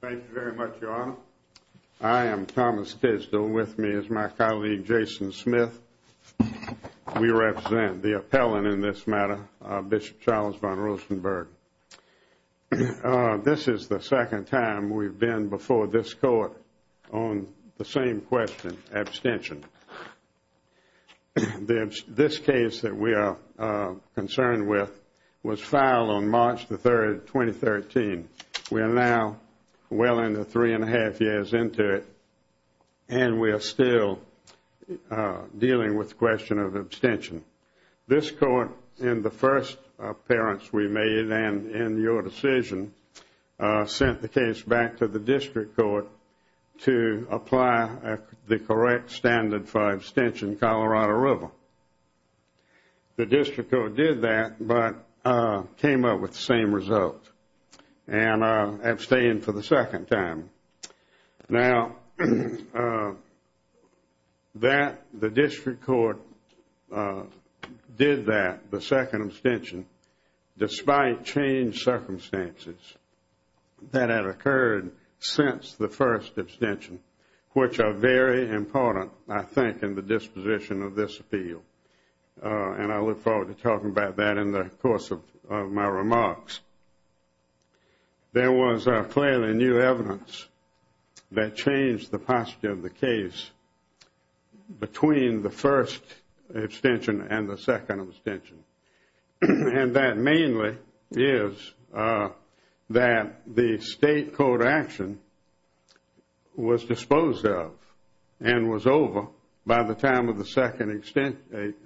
Thank you very much, Your Honor. I am Thomas Kisdall. With me is my colleague Jason Smith. We represent the appellant in this matter, Bishop Charles vonRosenberg. This is the second time we've been before this Court on the same question, abstention. This case that we are concerned with was filed on March 3, 2013. We are now well into three and a half years into it and we are still dealing with the question of abstention. This Court, in the first appearance we made and in your decision, sent the case back to the District Court to apply the correct standard for abstention, Colorado River. The District Court did that but came up with the same result and abstained for the second time. Now, the District Court did that, the second abstention, despite changed circumstances that had occurred since the first abstention, which are very important, I think, in the disposition of this appeal. And I look forward to talking about that in the course of my remarks. There was clearly new evidence that changed the posture of the case between the first abstention and the second abstention. And that mainly is that the state court action was disposed of and was over by the time of the second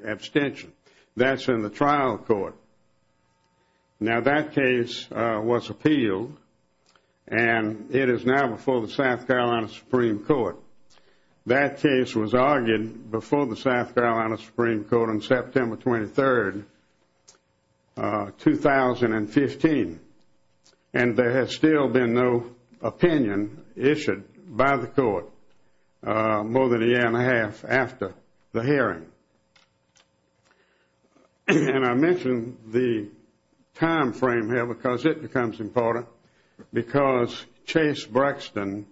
abstention. That is in the trial court. Now, that case was appealed and it is now before the South Carolina Supreme Court. That case was argued before the South Carolina Supreme Court on September 23, 2015. And there has still been no opinion issued by the court more than a year and a half after the hearing. And I mention the time frame here because it becomes important because the Chase-Brexton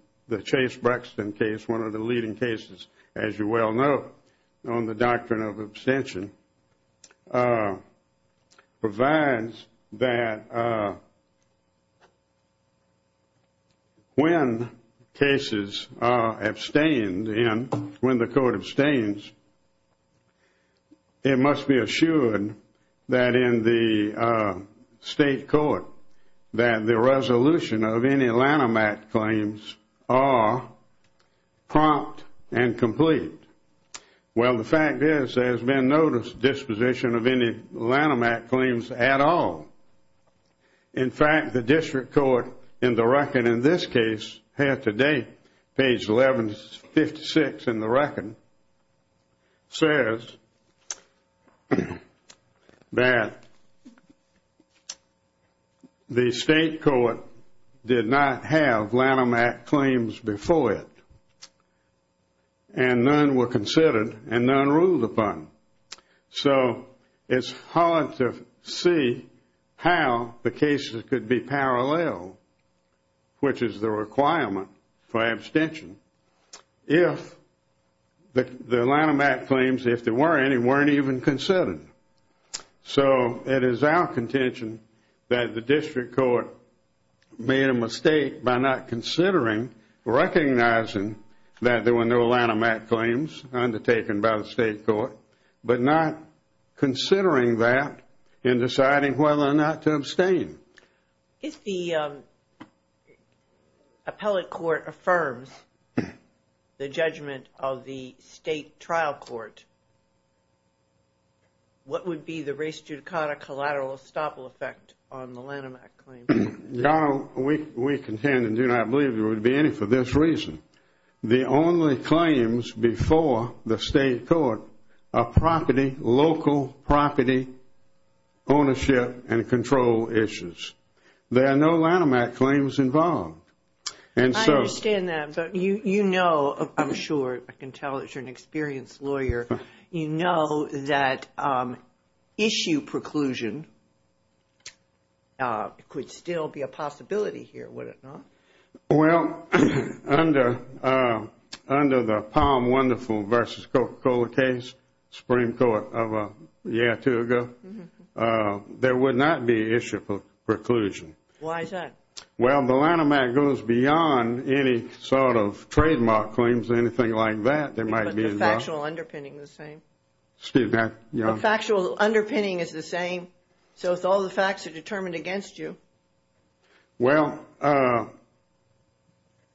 case, one of the leading cases, as you well know, on the doctrine of abstention, provides that when cases are abstained, when the court abstains, it must be assured that in the state court that the resolution of any Lanham Act claims are prompt and complete. Well, the fact is there has been no disposition of any Lanham Act claims at all. In fact, the district court in the record in this case, here today, page 1156 in the record, says that the state court did not have Lanham Act claims before it. And none were considered and none ruled upon. So it's hard to see how the cases could be parallel, which is the requirement for abstention, if the Lanham Act claims, if there were any, weren't even considered. So it is our contention that the district court made a mistake by not considering, recognizing that there were no Lanham Act claims undertaken by the state court, but not considering that in deciding whether or not to abstain. If the appellate court affirms the judgment of the state trial court, what would be the res judicata collateral estoppel effect on the Lanham Act claims? Donald, we contend and do not believe there would be any for this reason. The only claims before the state court are property, local property ownership and control issues. There are no Lanham Act claims involved. I understand that, but you know, I'm sure, I can tell that you're an experienced lawyer. You know that issue preclusion could still be a possibility here, would it not? Well, under the Palm Wonderful v. Coca-Cola case, Supreme Court of a year or two ago, there would not be issue preclusion. Why is that? Well, the Lanham Act goes beyond any sort of trademark claims or anything like that. But the factual underpinning is the same. Excuse me? The factual underpinning is the same. So if all the facts are determined against you. Well,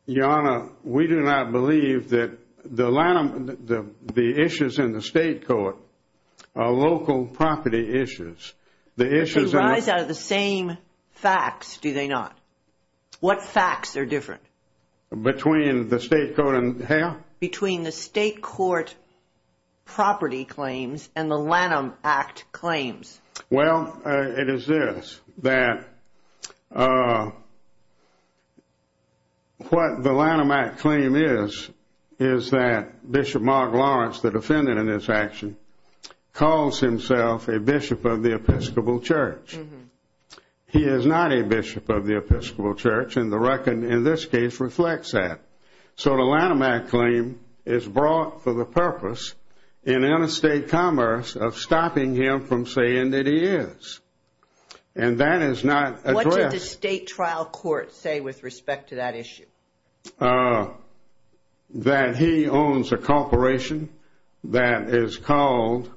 Your Honor, we do not believe that the issues in the state court are local property issues. They rise out of the same facts, do they not? What facts are different? Between the state court and how? Between the state court property claims and the Lanham Act claims. Well, it is this, that what the Lanham Act claim is, is that Bishop Mark Lawrence, the defendant in this action, calls himself a bishop of the Episcopal Church. He is not a bishop of the Episcopal Church, and the record in this case reflects that. So the Lanham Act claim is brought for the purpose in interstate commerce of stopping him from saying that he is. And that is not addressed. What did the state trial court say with respect to that issue? That he owns a corporation that is called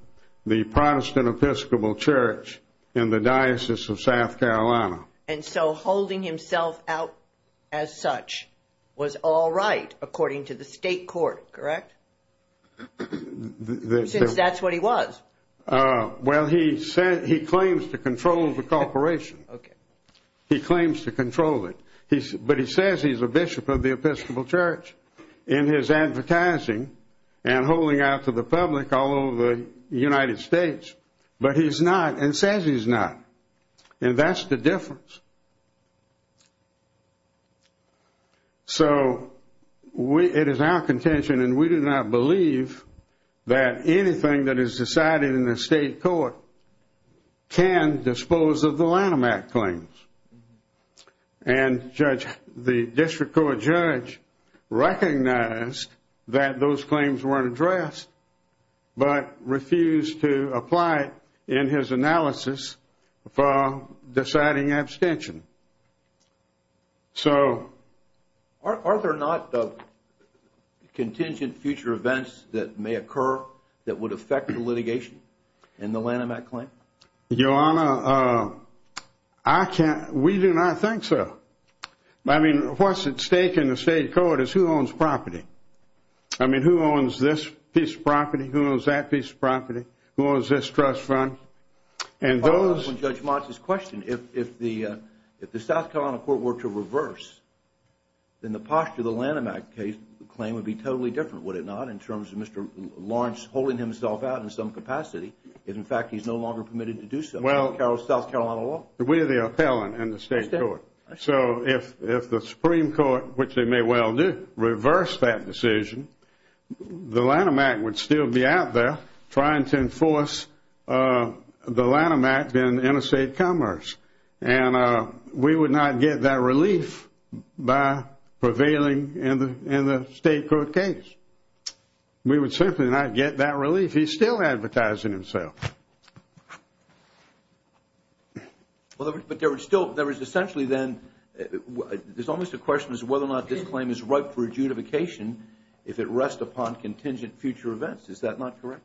the Protestant Episcopal Church in the Diocese of South Carolina. And so holding himself out as such was all right according to the state court, correct? Since that is what he was. Well, he claims to control the corporation. He claims to control it. But he says he is a bishop of the Episcopal Church in his advertising and holding out to the public all over the United States. But he is not and says he is not. And that is the difference. So it is our contention and we do not believe that anything that is decided in the state court can dispose of the Lanham Act claims. And the district court judge recognized that those claims were not addressed but refused to apply it in his analysis for deciding abstention. Are there not contingent future events that may occur that would affect the litigation in the Lanham Act claim? Your Honor, we do not think so. I mean, what is at stake in the state court is who owns property. I mean, who owns this piece of property? Who owns that piece of property? Who owns this trust fund? And those I will follow up on Judge Motz's question. If the South Carolina court were to reverse, then the posture of the Lanham Act claim would be totally different, would it not, in terms of Mr. Lawrence holding himself out in some capacity if, in fact, he is no longer permitted to do so in South Carolina law? We are the appellant in the state court. So if the Supreme Court, which they may well do, reverse that decision, the Lanham Act would still be out there trying to enforce the Lanham Act in interstate commerce. And we would not get that relief by prevailing in the state court case. We would simply not get that relief. He's still advertising himself. But there is still, there is essentially then, there's almost a question as to whether or not this claim is ripe for adjudication if it rests upon contingent future events. Is that not correct?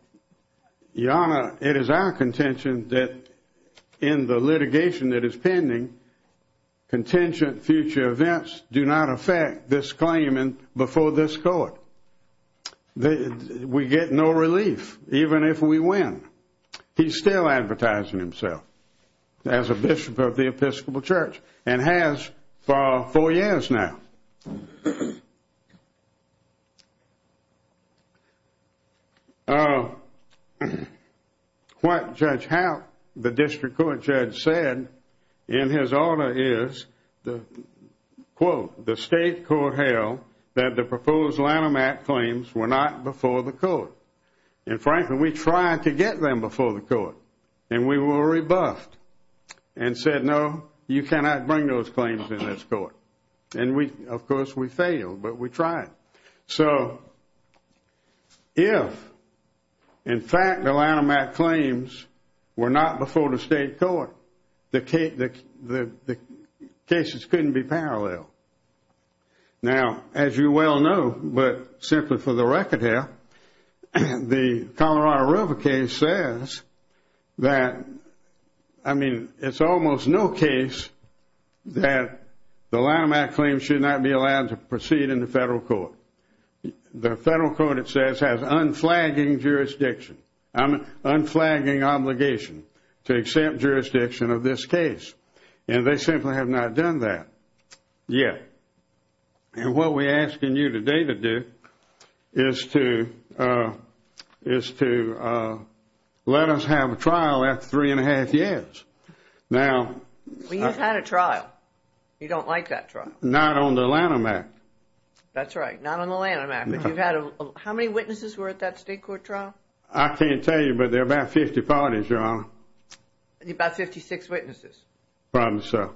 Your Honor, it is our contention that in the litigation that is pending, contingent future events do not affect this claim before this court. We get no relief, even if we win. He's still advertising himself as a bishop of the Episcopal Church and has for four years now. What Judge Haupt, the district court judge, said in his order is, quote, the state court held that the proposed Lanham Act claims were not before the court. And frankly, we tried to get them before the court. And we were rebuffed and said, no, you cannot bring those claims in this court. And we, of course, we failed, but we tried. So if, in fact, the Lanham Act claims were not before the state court, the cases couldn't be parallel. Now, as you well know, but simply for the record here, the Colorado River case says that, I mean, it's almost no case that the Lanham Act claims should not be allowed to proceed in the federal court. The federal court, it says, has unflagging jurisdiction, unflagging obligation to accept jurisdiction of this case. And they simply have not done that yet. And what we're asking you today to do is to let us have a trial after three and a half years. Now- We just had a trial. You don't like that trial. Not on the Lanham Act. That's right, not on the Lanham Act. How many witnesses were at that state court trial? I can't tell you, but there were about 50 parties, Your Honor. About 56 witnesses. Probably so.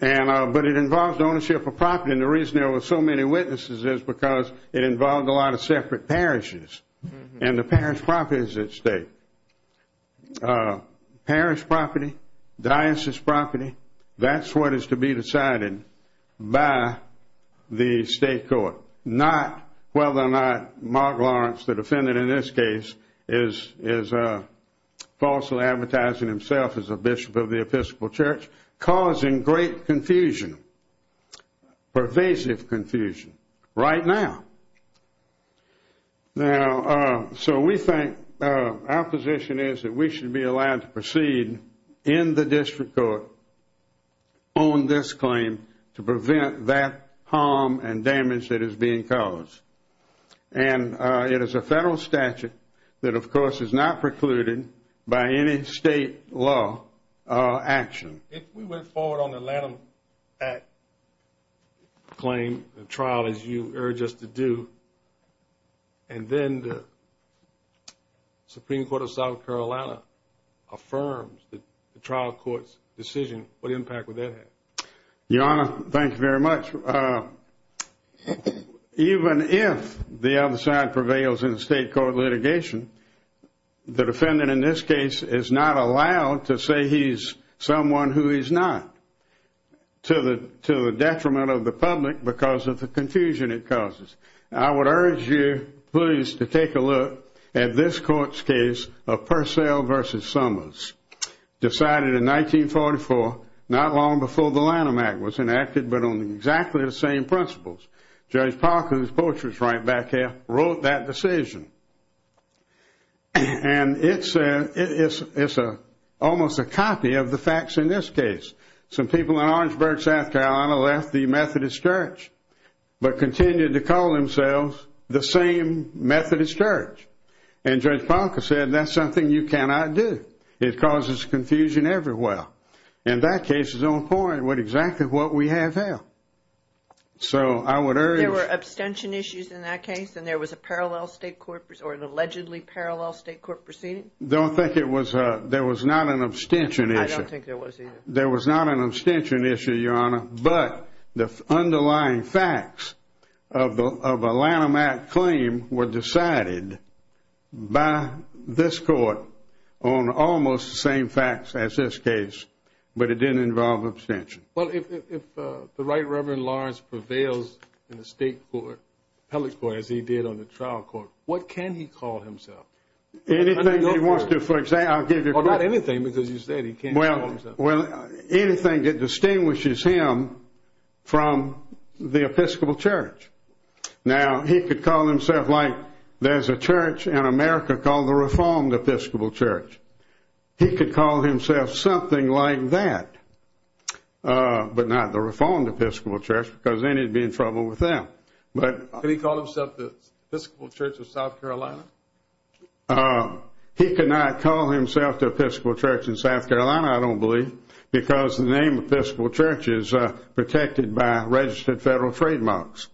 But it involved ownership of property, and the reason there were so many witnesses is because it involved a lot of separate parishes. And the parish property is at stake. Parish property, diocese property, that's what is to be decided by the state court. Not whether or not Mark Lawrence, the defendant in this case, is falsely advertising himself as a bishop of the Episcopal Church, causing great confusion, pervasive confusion, right now. So we think our position is that we should be allowed to proceed in the district court on this claim to prevent that harm and damage that is being caused. And it is a federal statute that, of course, is not precluded by any state law action. If we went forward on the Lanham Act claim, the trial, as you urge us to do, and then the Supreme Court of South Carolina affirms the trial court's decision, what impact would that have? Your Honor, thank you very much. Even if the other side prevails in the state court litigation, the defendant in this case is not allowed to say he's someone who he's not, to the detriment of the public because of the confusion it causes. I would urge you, please, to take a look at this court's case of Purcell v. Summers. Decided in 1944, not long before the Lanham Act was enacted, but on exactly the same principles. Judge Parker, whose poetry is right back here, wrote that decision. And it's almost a copy of the facts in this case. Some people in Orangeburg, South Carolina, left the Methodist Church, but continued to call themselves the same Methodist Church. And Judge Parker said, that's something you cannot do. It causes confusion everywhere. And that case is on point with exactly what we have here. So I would urge... There were abstention issues in that case, and there was a parallel state court, or an allegedly parallel state court proceeding? I don't think there was not an abstention issue. I don't think there was either. There was not an abstention issue, Your Honor, but the underlying facts of a Lanham Act claim were decided by this court on almost the same facts as this case, but it didn't involve abstention. Well, if the Right Reverend Lawrence prevails in the state court, the appellate court, as he did on the trial court, what can he call himself? Anything he wants to, for example. I'll give you... Well, not anything, because you said he can't call himself... Well, anything that distinguishes him from the Episcopal Church. Now, he could call himself like there's a church in America called the Reformed Episcopal Church. He could call himself something like that, but not the Reformed Episcopal Church, because then he'd be in trouble with them. Can he call himself the Episcopal Church of South Carolina? He cannot call himself the Episcopal Church of South Carolina, I don't believe, because the name Episcopal Church is protected by registered federal trademarks.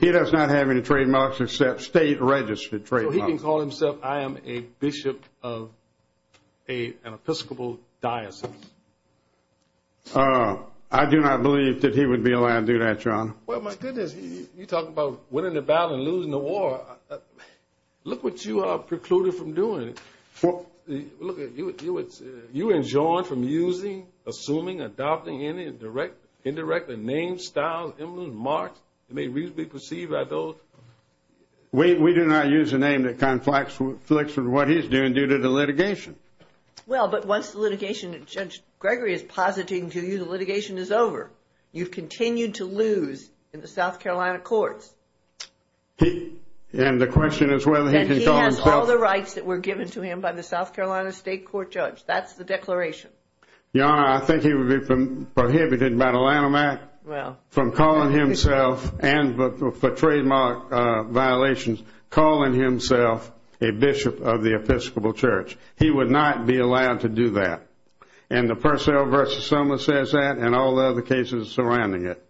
He does not have any trademarks except state-registered trademarks. So he can call himself, I am a bishop of an Episcopal diocese. I do not believe that he would be allowed to do that, John. Well, my goodness, you talk about winning the battle and losing the war. Look what you are precluded from doing. Look at you. You are enjoined from using, assuming, adopting any indirect name, style, emblem, mark that may reasonably be perceived by those... We do not use a name that conflicts with what he's doing due to the litigation. Well, but once the litigation, Judge Gregory is positing to you the litigation is over. You've continued to lose in the South Carolina courts. And the question is whether he can call himself... And he has all the rights that were given to him by the South Carolina state court judge. That's the declaration. Your Honor, I think he would be prohibited by the Lanham Act from calling himself and for trademark violations calling himself a bishop of the Episcopal church. He would not be allowed to do that. And the Purcell v. Soma says that and all the other cases surrounding it.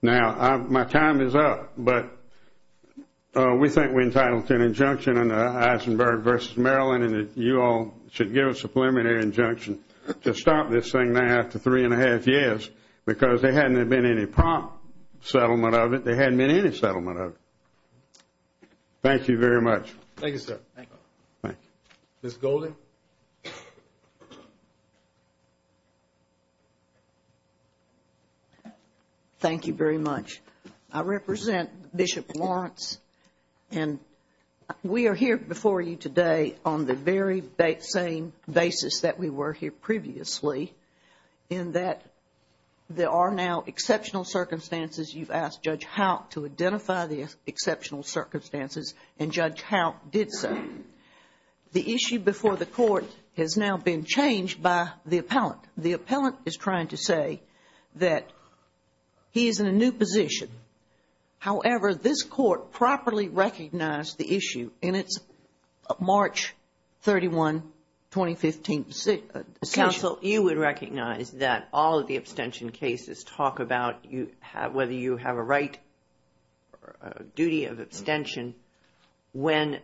Now, my time is up, but we think we entitled to an injunction under Eisenberg v. Maryland and that you all should give us a preliminary injunction to stop this thing now after three and a half years because there hadn't been any prompt settlement of it. There hadn't been any settlement of it. Thank you very much. Thank you, sir. Thank you. Ms. Golden. Thank you very much. I represent Bishop Lawrence and we are here before you today on the very same basis that we were here previously in that there are now exceptional circumstances. You've asked Judge Hout to identify the exceptional circumstances and Judge Hout did so. The issue before the court has now been changed by the appellant. The appellant is trying to say that he is in a new position. However, this court properly recognized the issue in its March 31, 2015 decision. Counsel, you would recognize that all of the abstention cases talk about whether you have a right duty of abstention when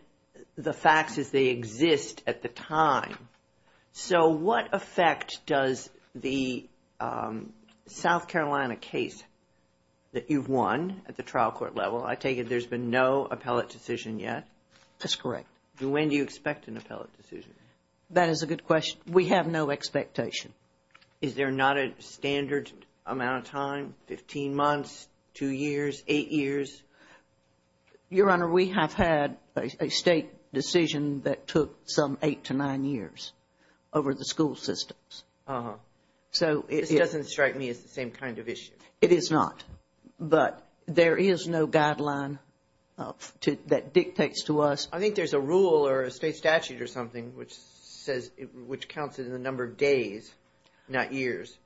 the fact is they exist at the time. So what effect does the South Carolina case that you've won at the trial court level, I take it there's been no appellate decision yet? That's correct. When do you expect an appellate decision? That is a good question. We have no expectation. Is there not a standard amount of time, 15 months, 2 years, 8 years? Your Honor, we have had a state decision that took some 8 to 9 years over the school systems. This doesn't strike me as the same kind of issue. It is not, but there is no guideline that dictates to us. I think there's a rule or a state statute or something which says, which counts in the number of days, not years.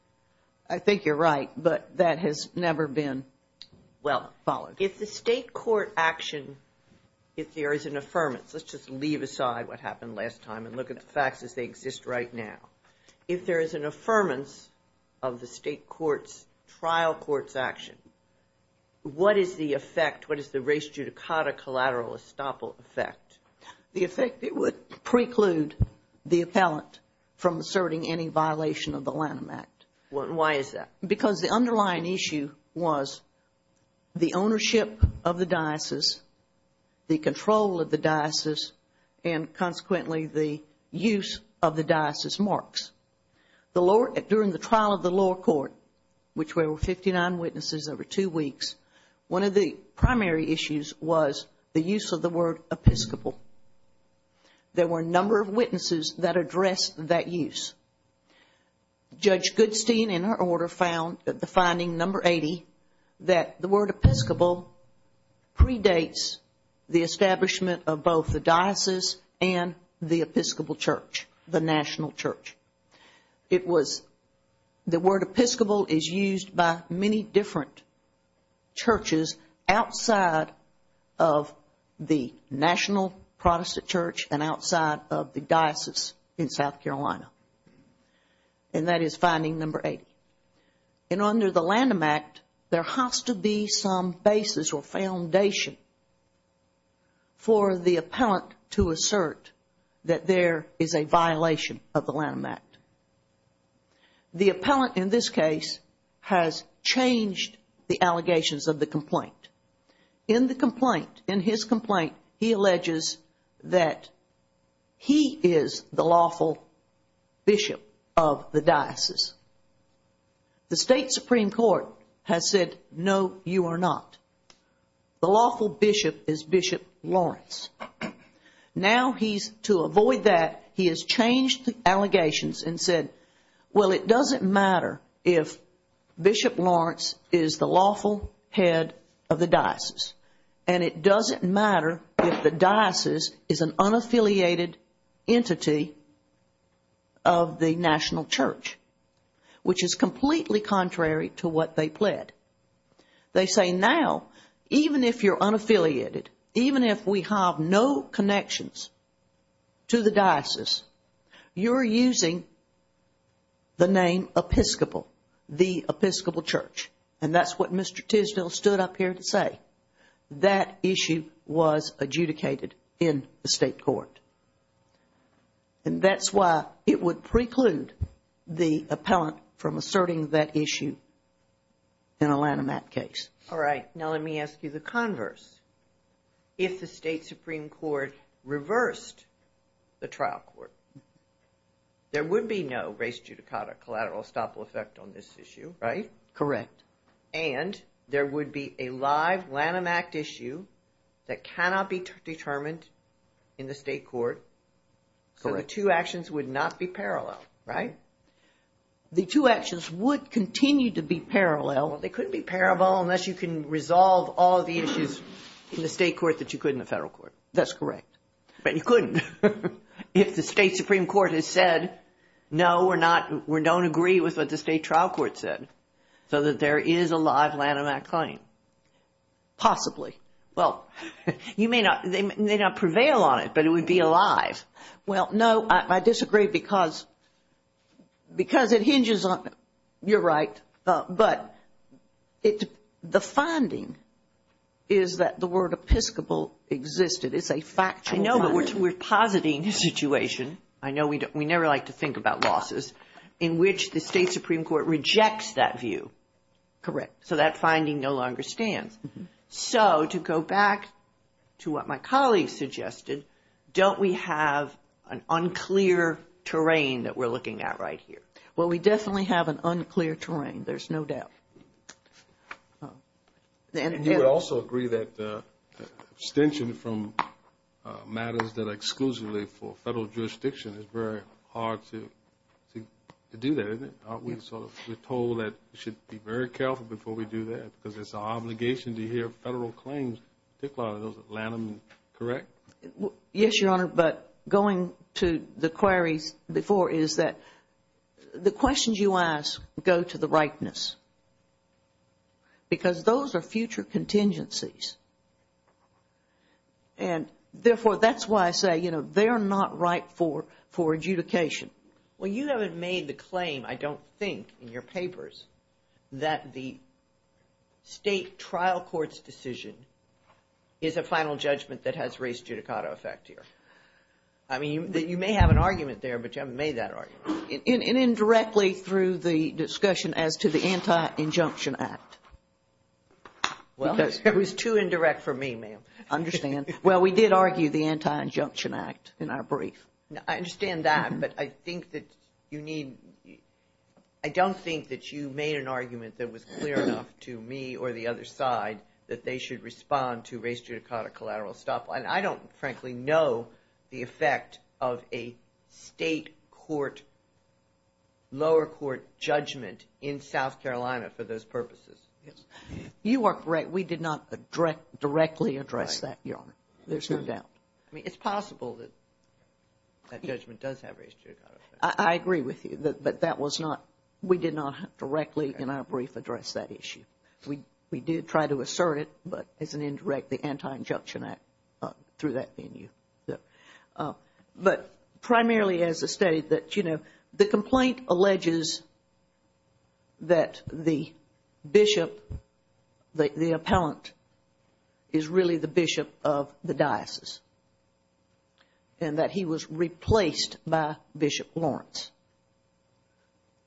I think you're right, but that has never been followed. If the state court action, if there is an affirmance, let's just leave aside what happened last time and look at the facts as they exist right now. If there is an affirmance of the state court's trial court's action, what is the effect, what is the res judicata collateral estoppel effect? The effect, it would preclude the appellant from asserting any violation of the Lanham Act. Why is that? Because the underlying issue was the ownership of the diocese, the control of the diocese, and consequently the use of the diocese marks. During the trial of the lower court, which were 59 witnesses over 2 weeks, one of the primary issues was the use of the word Episcopal. There were a number of witnesses that addressed that use. Judge Goodstein, in her order, found that the finding number 80, that the word Episcopal predates the establishment of both the diocese and the Episcopal church, the national church. The word Episcopal is used by many different churches outside of the national Protestant church and outside of the diocese in South Carolina. And that is finding number 80. And under the Lanham Act, there has to be some basis or foundation for the appellant to assert that there is a violation of the Lanham Act. The appellant in this case has changed the allegations of the complaint. In the complaint, in his complaint, he alleges that he is the lawful bishop of the diocese. The state supreme court has said, no, you are not. The lawful bishop is Bishop Lawrence. Now he's, to avoid that, he has changed the allegations and said, Well, it doesn't matter if Bishop Lawrence is the lawful head of the diocese. And it doesn't matter if the diocese is an unaffiliated entity of the national church, which is completely contrary to what they pled. They say, now, even if you're unaffiliated, even if we have no connections to the diocese, you're using the name Episcopal, the Episcopal church. And that's what Mr. Tisdell stood up here to say. That issue was adjudicated in the state court. And that's why it would preclude the appellant from asserting that issue in a Lanham Act case. All right, now let me ask you the converse. If the state supreme court reversed the trial court, there would be no race judicata collateral estoppel effect on this issue, right? Correct. And there would be a live Lanham Act issue that cannot be determined in the state court. So the two actions would not be parallel, right? The two actions would continue to be parallel. Well, they couldn't be parallel unless you can resolve all the issues in the state court that you could in the federal court. That's correct. But you couldn't. If the state supreme court has said, no, we're not, we don't agree with what the state trial court said, so that there is a live Lanham Act claim. Possibly. Well, you may not, they may not prevail on it, but it would be alive. Well, no, I disagree because it hinges on, you're right, but the finding is that the word episcopal existed. It's a factual finding. I know, but we're positing a situation, I know we never like to think about losses, in which the state supreme court rejects that view. Correct. So that finding no longer stands. So to go back to what my colleague suggested, don't we have an unclear terrain that we're looking at right here? Well, we definitely have an unclear terrain, there's no doubt. You would also agree that abstention from matters that are exclusively for federal jurisdiction is very hard to do that, isn't it? We're told that we should be very careful before we do that because it's our obligation to hear federal claims, particularly those of Lanham, correct? Yes, Your Honor, but going to the queries before is that the questions you ask go to the rightness because those are future contingencies. And therefore, that's why I say, you know, they're not right for adjudication. Well, you haven't made the claim, I don't think, in your papers, that the state trial court's decision is a final judgment that has race judicata effect here. I mean, you may have an argument there, but you haven't made that argument. And indirectly through the discussion as to the Anti-Injunction Act. Well, it was too indirect for me, ma'am. I understand. Well, we did argue the Anti-Injunction Act in our brief. I understand that, but I think that you need – I don't think that you made an argument that was clear enough to me or the other side that they should respond to race judicata collateral stuff. And I don't, frankly, know the effect of a state court, lower court judgment in South Carolina for those purposes. You are correct. We did not directly address that, Your Honor. There's no doubt. I mean, it's possible that that judgment does have race judicata effect. I agree with you, but that was not – we did not directly in our brief address that issue. We did try to assert it, but as an indirect, the Anti-Injunction Act, through that venue. But primarily as a state that, you know, the complaint alleges that the bishop, the appellant, is really the bishop of the diocese and that he was replaced by Bishop Lawrence.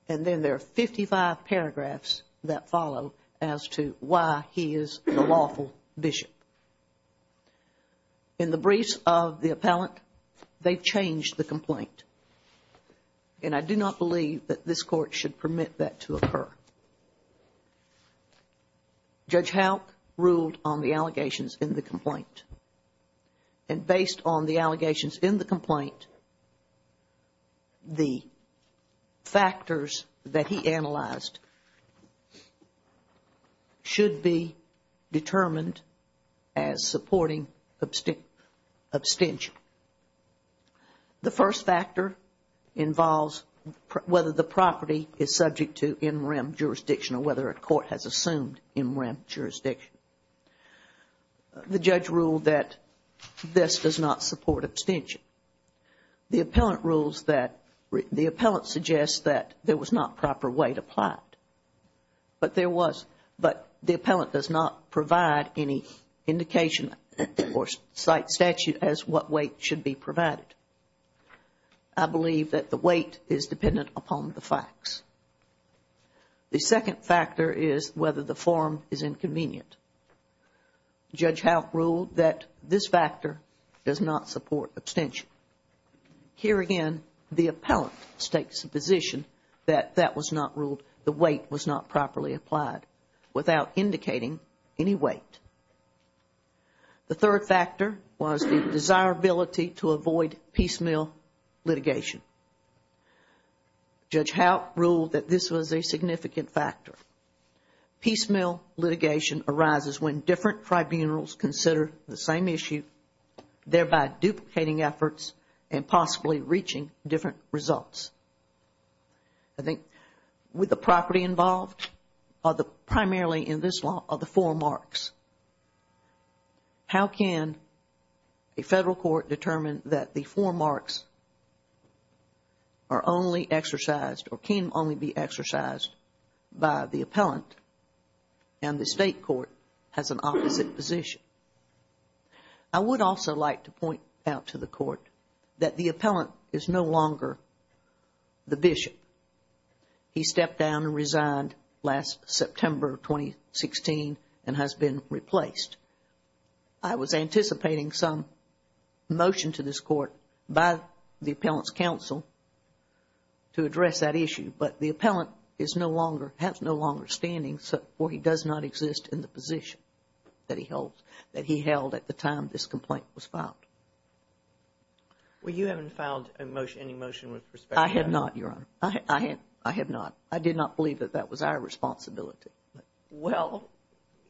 And then there are 55 paragraphs that follow as to why he is the lawful bishop. In the briefs of the appellant, they've changed the complaint. And I do not believe that this court should permit that to occur. Judge Houk ruled on the allegations in the complaint. And based on the allegations in the complaint, the factors that he analyzed should be determined as supporting abstention. The first factor involves whether the property is subject to in rem jurisdiction or whether a court has assumed in rem jurisdiction. The judge ruled that this does not support abstention. The appellant rules that – the appellant suggests that there was not proper weight applied. But there was – but the appellant does not provide any indication or cite statute as what weight should be provided. I believe that the weight is dependent upon the facts. The second factor is whether the form is inconvenient. Judge Houk ruled that this factor does not support abstention. Here again, the appellant takes the position that that was not ruled – the weight was not properly applied without indicating any weight. The third factor was the desirability to avoid piecemeal litigation. Judge Houk ruled that this was a significant factor. Piecemeal litigation arises when different tribunals consider the same issue, thereby duplicating efforts and possibly reaching different results. I think with the property involved, primarily in this law, are the four marks. How can a federal court determine that the four marks are only exercised or can only be exercised by the appellant and the state court has an opposite position? I would also like to point out to the court that the appellant is no longer the bishop. He stepped down and resigned last September 2016 and has been replaced. I was anticipating some motion to this court by the appellant's counsel to address that issue, but the appellant has no longer standing, for he does not exist in the position that he held at the time this complaint was filed. Well, you haven't filed any motion with respect to that. I have not, Your Honor. I have not. I did not believe that that was our responsibility. Well,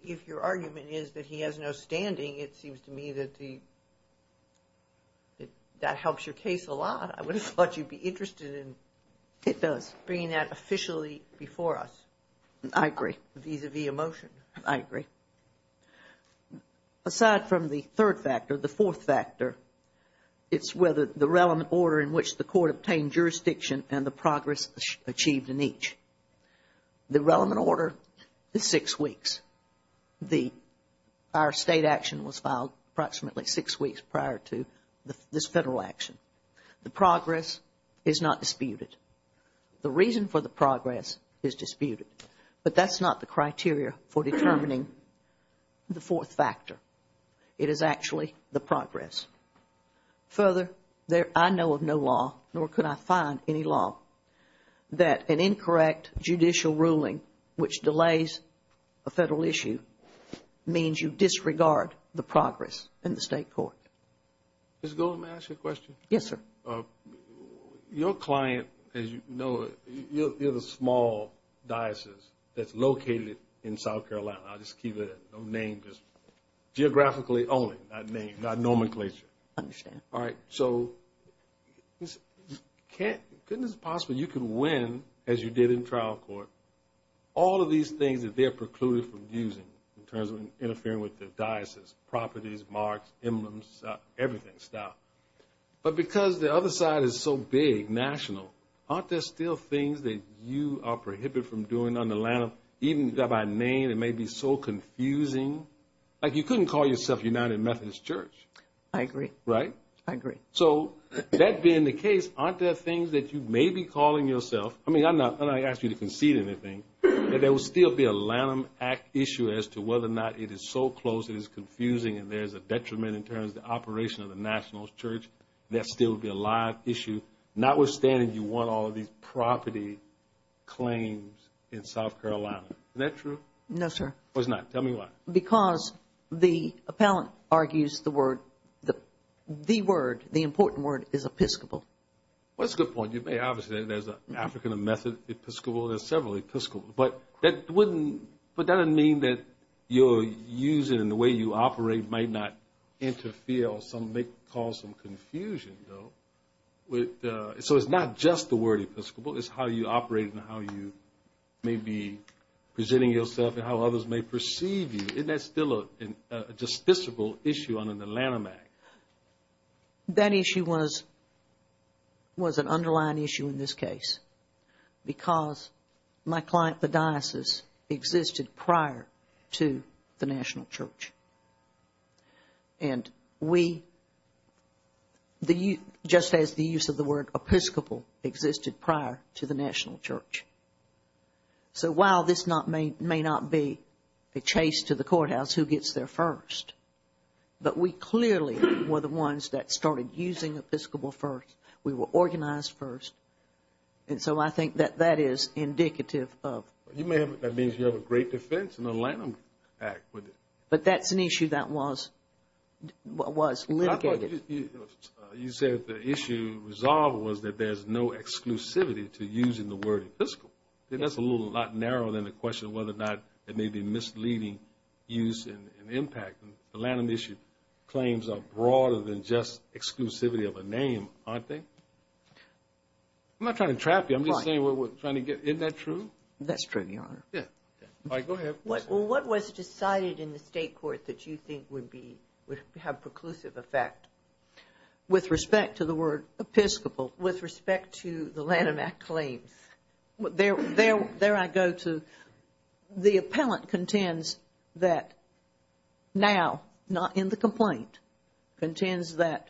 if your argument is that he has no standing, it seems to me that that helps your case a lot. I would have thought you'd be interested in bringing that officially before us. I agree. Vis-a-vis a motion. I agree. Aside from the third factor, the fourth factor, it's whether the relevant order in which the court obtained jurisdiction and the progress achieved in each. The relevant order is six weeks. Our state action was filed approximately six weeks prior to this Federal action. The progress is not disputed. The reason for the progress is disputed, but that's not the criteria for determining the fourth factor. It is actually the progress. Further, I know of no law, nor could I find any law, that an incorrect judicial ruling which delays a Federal issue means you disregard the progress in the State court. Ms. Golden, may I ask you a question? Yes, sir. Your client, as you know, you're the small diocese that's located in South Carolina. I'll just keep it, no name, just geographically only, not name, not nomenclature. I understand. All right. So, couldn't it be possible you could win, as you did in trial court, all of these things that they're precluded from using in terms of interfering with the diocese, properties, marks, emblems, everything, stuff. But because the other side is so big, national, aren't there still things that you are prohibited from doing under Lanham? Even by name, it may be so confusing. Like, you couldn't call yourself United Methodist Church. I agree. Right? I agree. So, that being the case, aren't there things that you may be calling yourself? I mean, I'm not going to ask you to concede anything, but there will still be a Lanham Act issue as to whether or not it is so close it is confusing and there's a detriment in terms of the operation of the National Church. That still would be a live issue, notwithstanding you want all of these property claims in South Carolina. Is that true? No, sir. It's not. Tell me why. Because the appellant argues the word, the word, the important word is Episcopal. Well, that's a good point. You may, obviously, there's an African Method Episcopal, there's several Episcopal. But that wouldn't, but that doesn't mean that your use and the way you operate might not interfere or cause some confusion, though. So, it's not just the word Episcopal, it's how you operate and how you may be presenting yourself and how others may perceive you. Isn't that still a justiciable issue under the Lanham Act? That issue was an underlying issue in this case because my client, the diocese, existed prior to the National Church. And we, just as the use of the word Episcopal existed prior to the National Church. So, while this may not be a chase to the courthouse, who gets there first? But we clearly were the ones that started using Episcopal first. We were organized first. And so, I think that that is indicative of. You may have, that means you have a great defense in the Lanham Act. But that's an issue that was litigated. You said the issue resolved was that there's no exclusivity to using the word Episcopal. That's a little, a lot narrower than the question of whether or not it may be misleading use and impact. The Lanham issue claims are broader than just exclusivity of a name, aren't they? I'm not trying to trap you. I'm just saying what we're trying to get. Isn't that true? That's true, Your Honor. Yeah. All right, go ahead. Well, what was decided in the state court that you think would be, would have preclusive effect? With respect to the word Episcopal, with respect to the Lanham Act claims, there I go to. The appellant contends that now, not in the complaint, contends that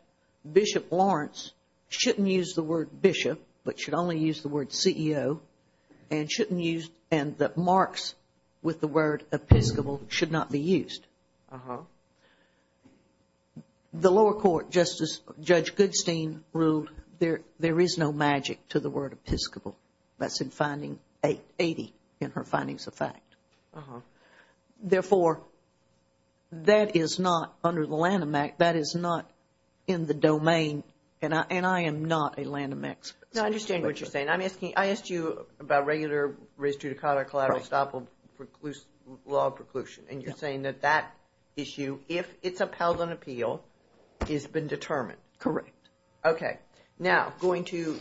Bishop Lawrence shouldn't use the word Bishop, but should only use the word CEO, and shouldn't use, and that marks with the word Episcopal should not be used. Uh-huh. The lower court, just as Judge Goodstein ruled, there is no magic to the word Episcopal. That's in finding 80 in her findings of fact. Uh-huh. Therefore, that is not under the Lanham Act. That is not in the domain, and I am not a Lanham expert. No, I understand what you're saying. I'm asking, I asked you about regular res judicata collateral estoppel law preclusion. And you're saying that that issue, if it's upheld on appeal, has been determined. Correct. Okay. Now, going to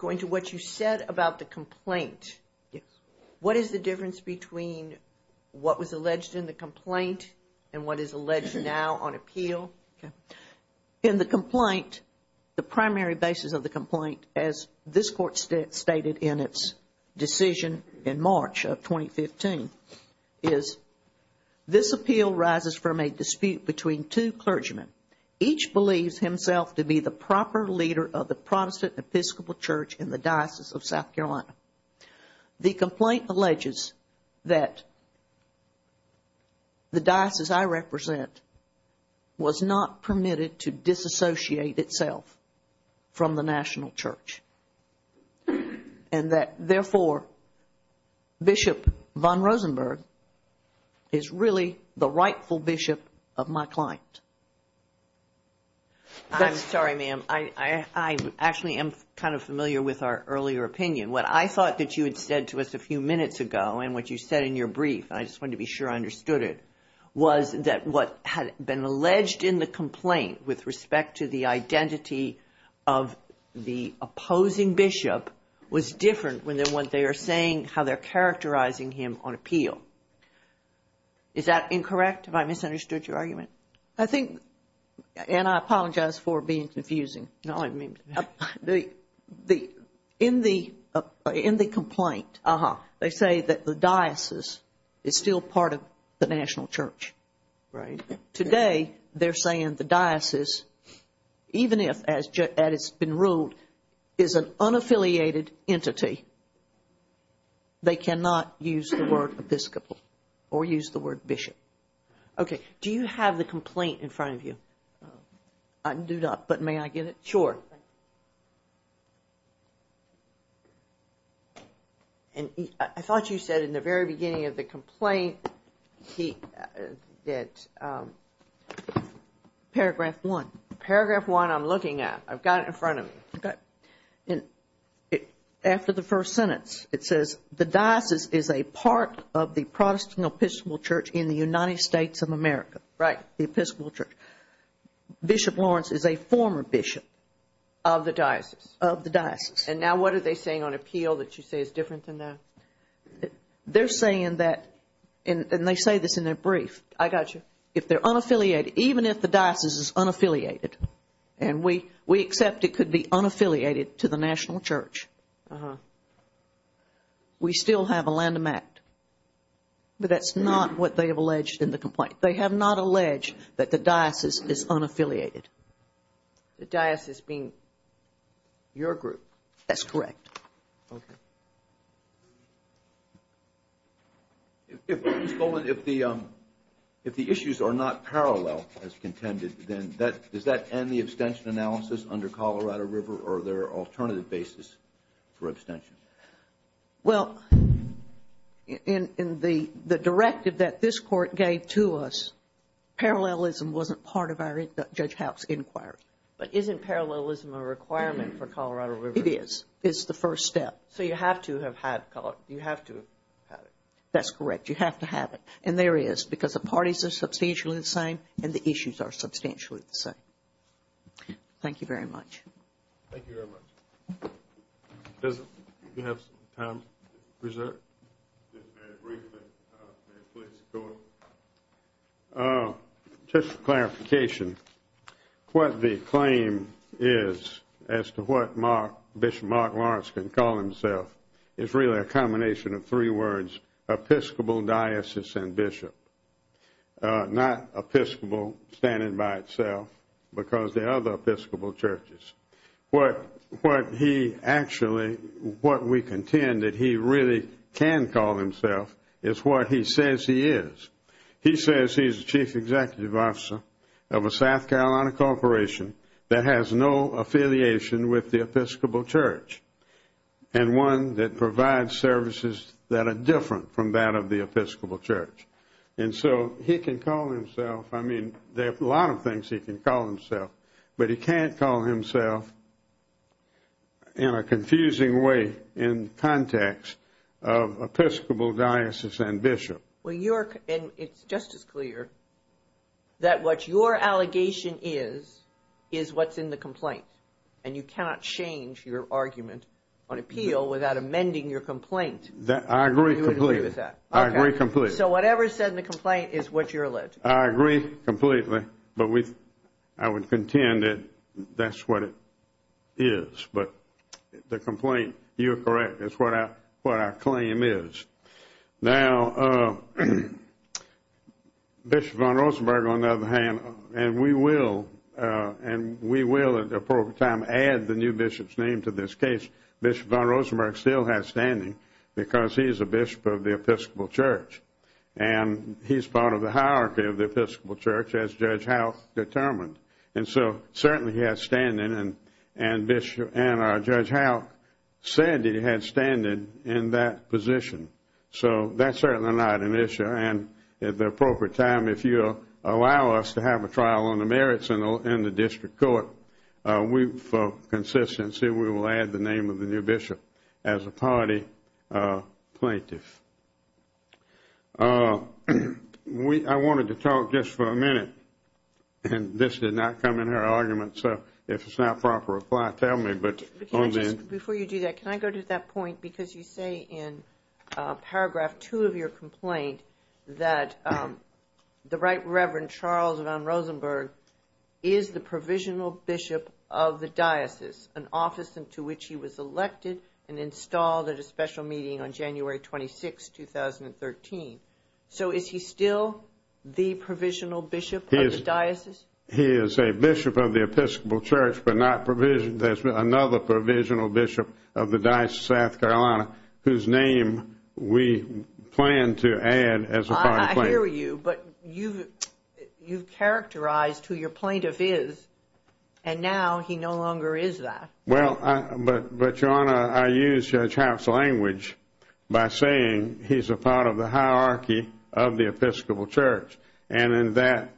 what you said about the complaint. Yes. What is the difference between what was alleged in the complaint and what is alleged now on appeal? In the complaint, the primary basis of the complaint, as this court stated in its decision in March of 2015, is this appeal rises from a dispute between two clergymen, each believes himself to be the proper leader of the Protestant Episcopal Church in the Diocese of South Carolina. The complaint alleges that the diocese I represent was not permitted to disassociate itself from the national church and that, therefore, Bishop von Rosenberg is really the rightful bishop of my client. I'm sorry, ma'am. I actually am kind of familiar with our earlier opinion. What I thought that you had said to us a few minutes ago and what you said in your brief, and I just wanted to be sure I understood it, was that what had been alleged in the complaint with respect to the identity of the opposing bishop was different than what they are saying, how they're characterizing him on appeal. Is that incorrect? Have I misunderstood your argument? I think, and I apologize for being confusing. No, I mean, in the complaint, they say that the diocese is still part of the national church. Right. Today, they're saying the diocese, even if, as it's been ruled, is an unaffiliated entity, they cannot use the word Episcopal or use the word bishop. Okay. Do you have the complaint in front of you? I do not, but may I get it? Sure. And I thought you said in the very beginning of the complaint that paragraph one. Paragraph one I'm looking at. I've got it in front of me. Okay. And after the first sentence, it says, The diocese is a part of the Protestant Episcopal Church in the United States of America. Right. The Episcopal Church. Bishop Lawrence is a former bishop. Of the diocese. Of the diocese. And now what are they saying on appeal that you say is different than that? They're saying that, and they say this in their brief. I got you. If they're unaffiliated, even if the diocese is unaffiliated, and we accept it could be unaffiliated to the national church, we still have a Lanham Act. But that's not what they have alleged in the complaint. They have not alleged that the diocese is unaffiliated. The diocese being your group? That's correct. Okay. Ms. Golden, if the issues are not parallel as contended, then does that end the abstention analysis under Colorado River, or are there alternative basis for abstention? Well, in the directive that this court gave to us, parallelism wasn't part of our judge house inquiry. But isn't parallelism a requirement for Colorado River? It is. It's the first step. So you have to have had Colorado. You have to have it. That's correct. You have to have it. And there is, because the parties are substantially the same, and the issues are substantially the same. Thank you very much. Thank you very much. Do you have some time reserved? Just for clarification, what the claim is as to what Bishop Mark Lawrence can call himself is really a combination of three words, Episcopal, diocese, and bishop. Not Episcopal standing by itself, because there are other Episcopal churches. What he actually, what we contend that he really can call himself, is what he says he is. He says he's the chief executive officer of a South Carolina corporation that has no affiliation with the Episcopal church, and one that provides services that are different from that of the Episcopal church. And so he can call himself, I mean, there are a lot of things he can call himself, but he can't call himself in a confusing way in context of Episcopal, diocese, and bishop. Okay. It's just as clear that what your allegation is, is what's in the complaint, and you cannot change your argument on appeal without amending your complaint. I agree completely. I agree completely. So whatever's said in the complaint is what you're alleged. I agree completely, but I would contend that that's what it is. But the complaint, you're correct, is what our claim is. Now, Bishop von Rosenberg, on the other hand, and we will at an appropriate time add the new bishop's name to this case, Bishop von Rosenberg still has standing because he is a bishop of the Episcopal church, and he's part of the hierarchy of the Episcopal church, as Judge Howe determined. And so certainly he has standing, and our Judge Howe said he had standing in that position. So that's certainly not an issue. And at the appropriate time, if you'll allow us to have a trial on the merits in the district court, for consistency we will add the name of the new bishop as a party plaintiff. I wanted to talk just for a minute, and this did not come in her argument, so if it's not proper, tell me. Before you do that, can I go to that point? Because you say in paragraph two of your complaint that the right reverend Charles von Rosenberg is the provisional bishop of the diocese, an office into which he was elected and installed at a special meeting on January 26, 2013. So is he still the provisional bishop of the diocese? He is a bishop of the Episcopal church, but not another provisional bishop of the Diocese of South Carolina, whose name we plan to add as a party plaintiff. I hear you, but you've characterized who your plaintiff is, and now he no longer is that. Well, but Your Honor, I used Judge Howe's language by saying he's a part of the hierarchy of the Episcopal church. And in that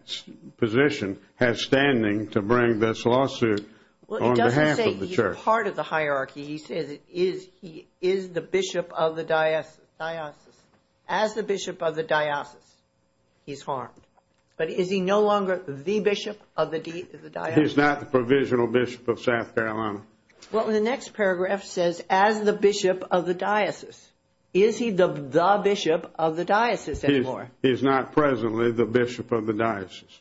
position has standing to bring this lawsuit on behalf of the Well, he doesn't say he's a part of the hierarchy. He says he is the bishop of the diocese. As the bishop of the diocese, he's harmed. But is he no longer the bishop of the diocese? He's not the provisional bishop of South Carolina. Well, the next paragraph says, as the bishop of the diocese. Is he the bishop of the diocese anymore? He's not presently the bishop of the diocese.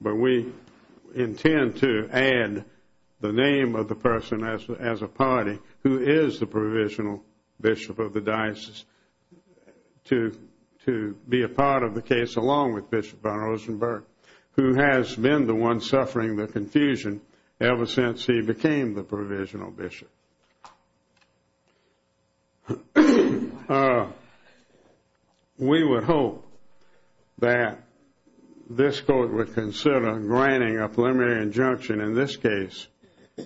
But we intend to add the name of the person as a party who is the provisional bishop of the diocese to be a part of the case, along with Bishop Rosenberg, who has been the one suffering the confusion ever since he became the provisional bishop. We would hope that this court would consider granting a preliminary injunction in this case,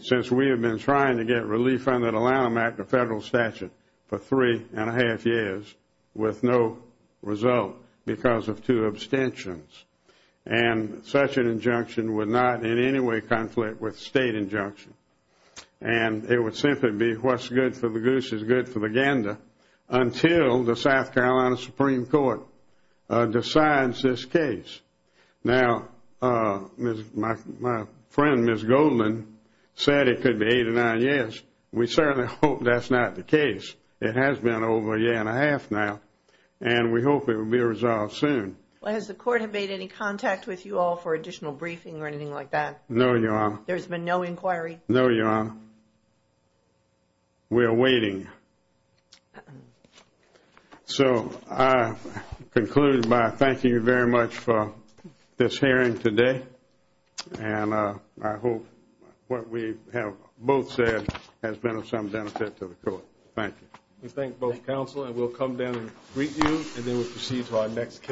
since we have been trying to get relief under the Lanham Act, the federal statute for three and a half years with no result because of two abstentions. And such an injunction would not in any way conflict with state injunction. And it would simply be what's good for the goose is good for the gander until the South Carolina Supreme Court decides this case. Now, my friend, Ms. Goldman said it could be eight or nine years. We certainly hope that's not the case. It has been over a year and a half now, and we hope it will be resolved soon. Has the court have made any contact with you all for additional briefing or anything like that? No, Your Honor. There's been no inquiry? No, Your Honor. We are waiting. So I conclude by thanking you very much for this hearing today. And I hope what we have both said has been of some benefit to the court. Thank you. We thank both counsel, and we'll come down and greet you, and then we'll proceed to our next case.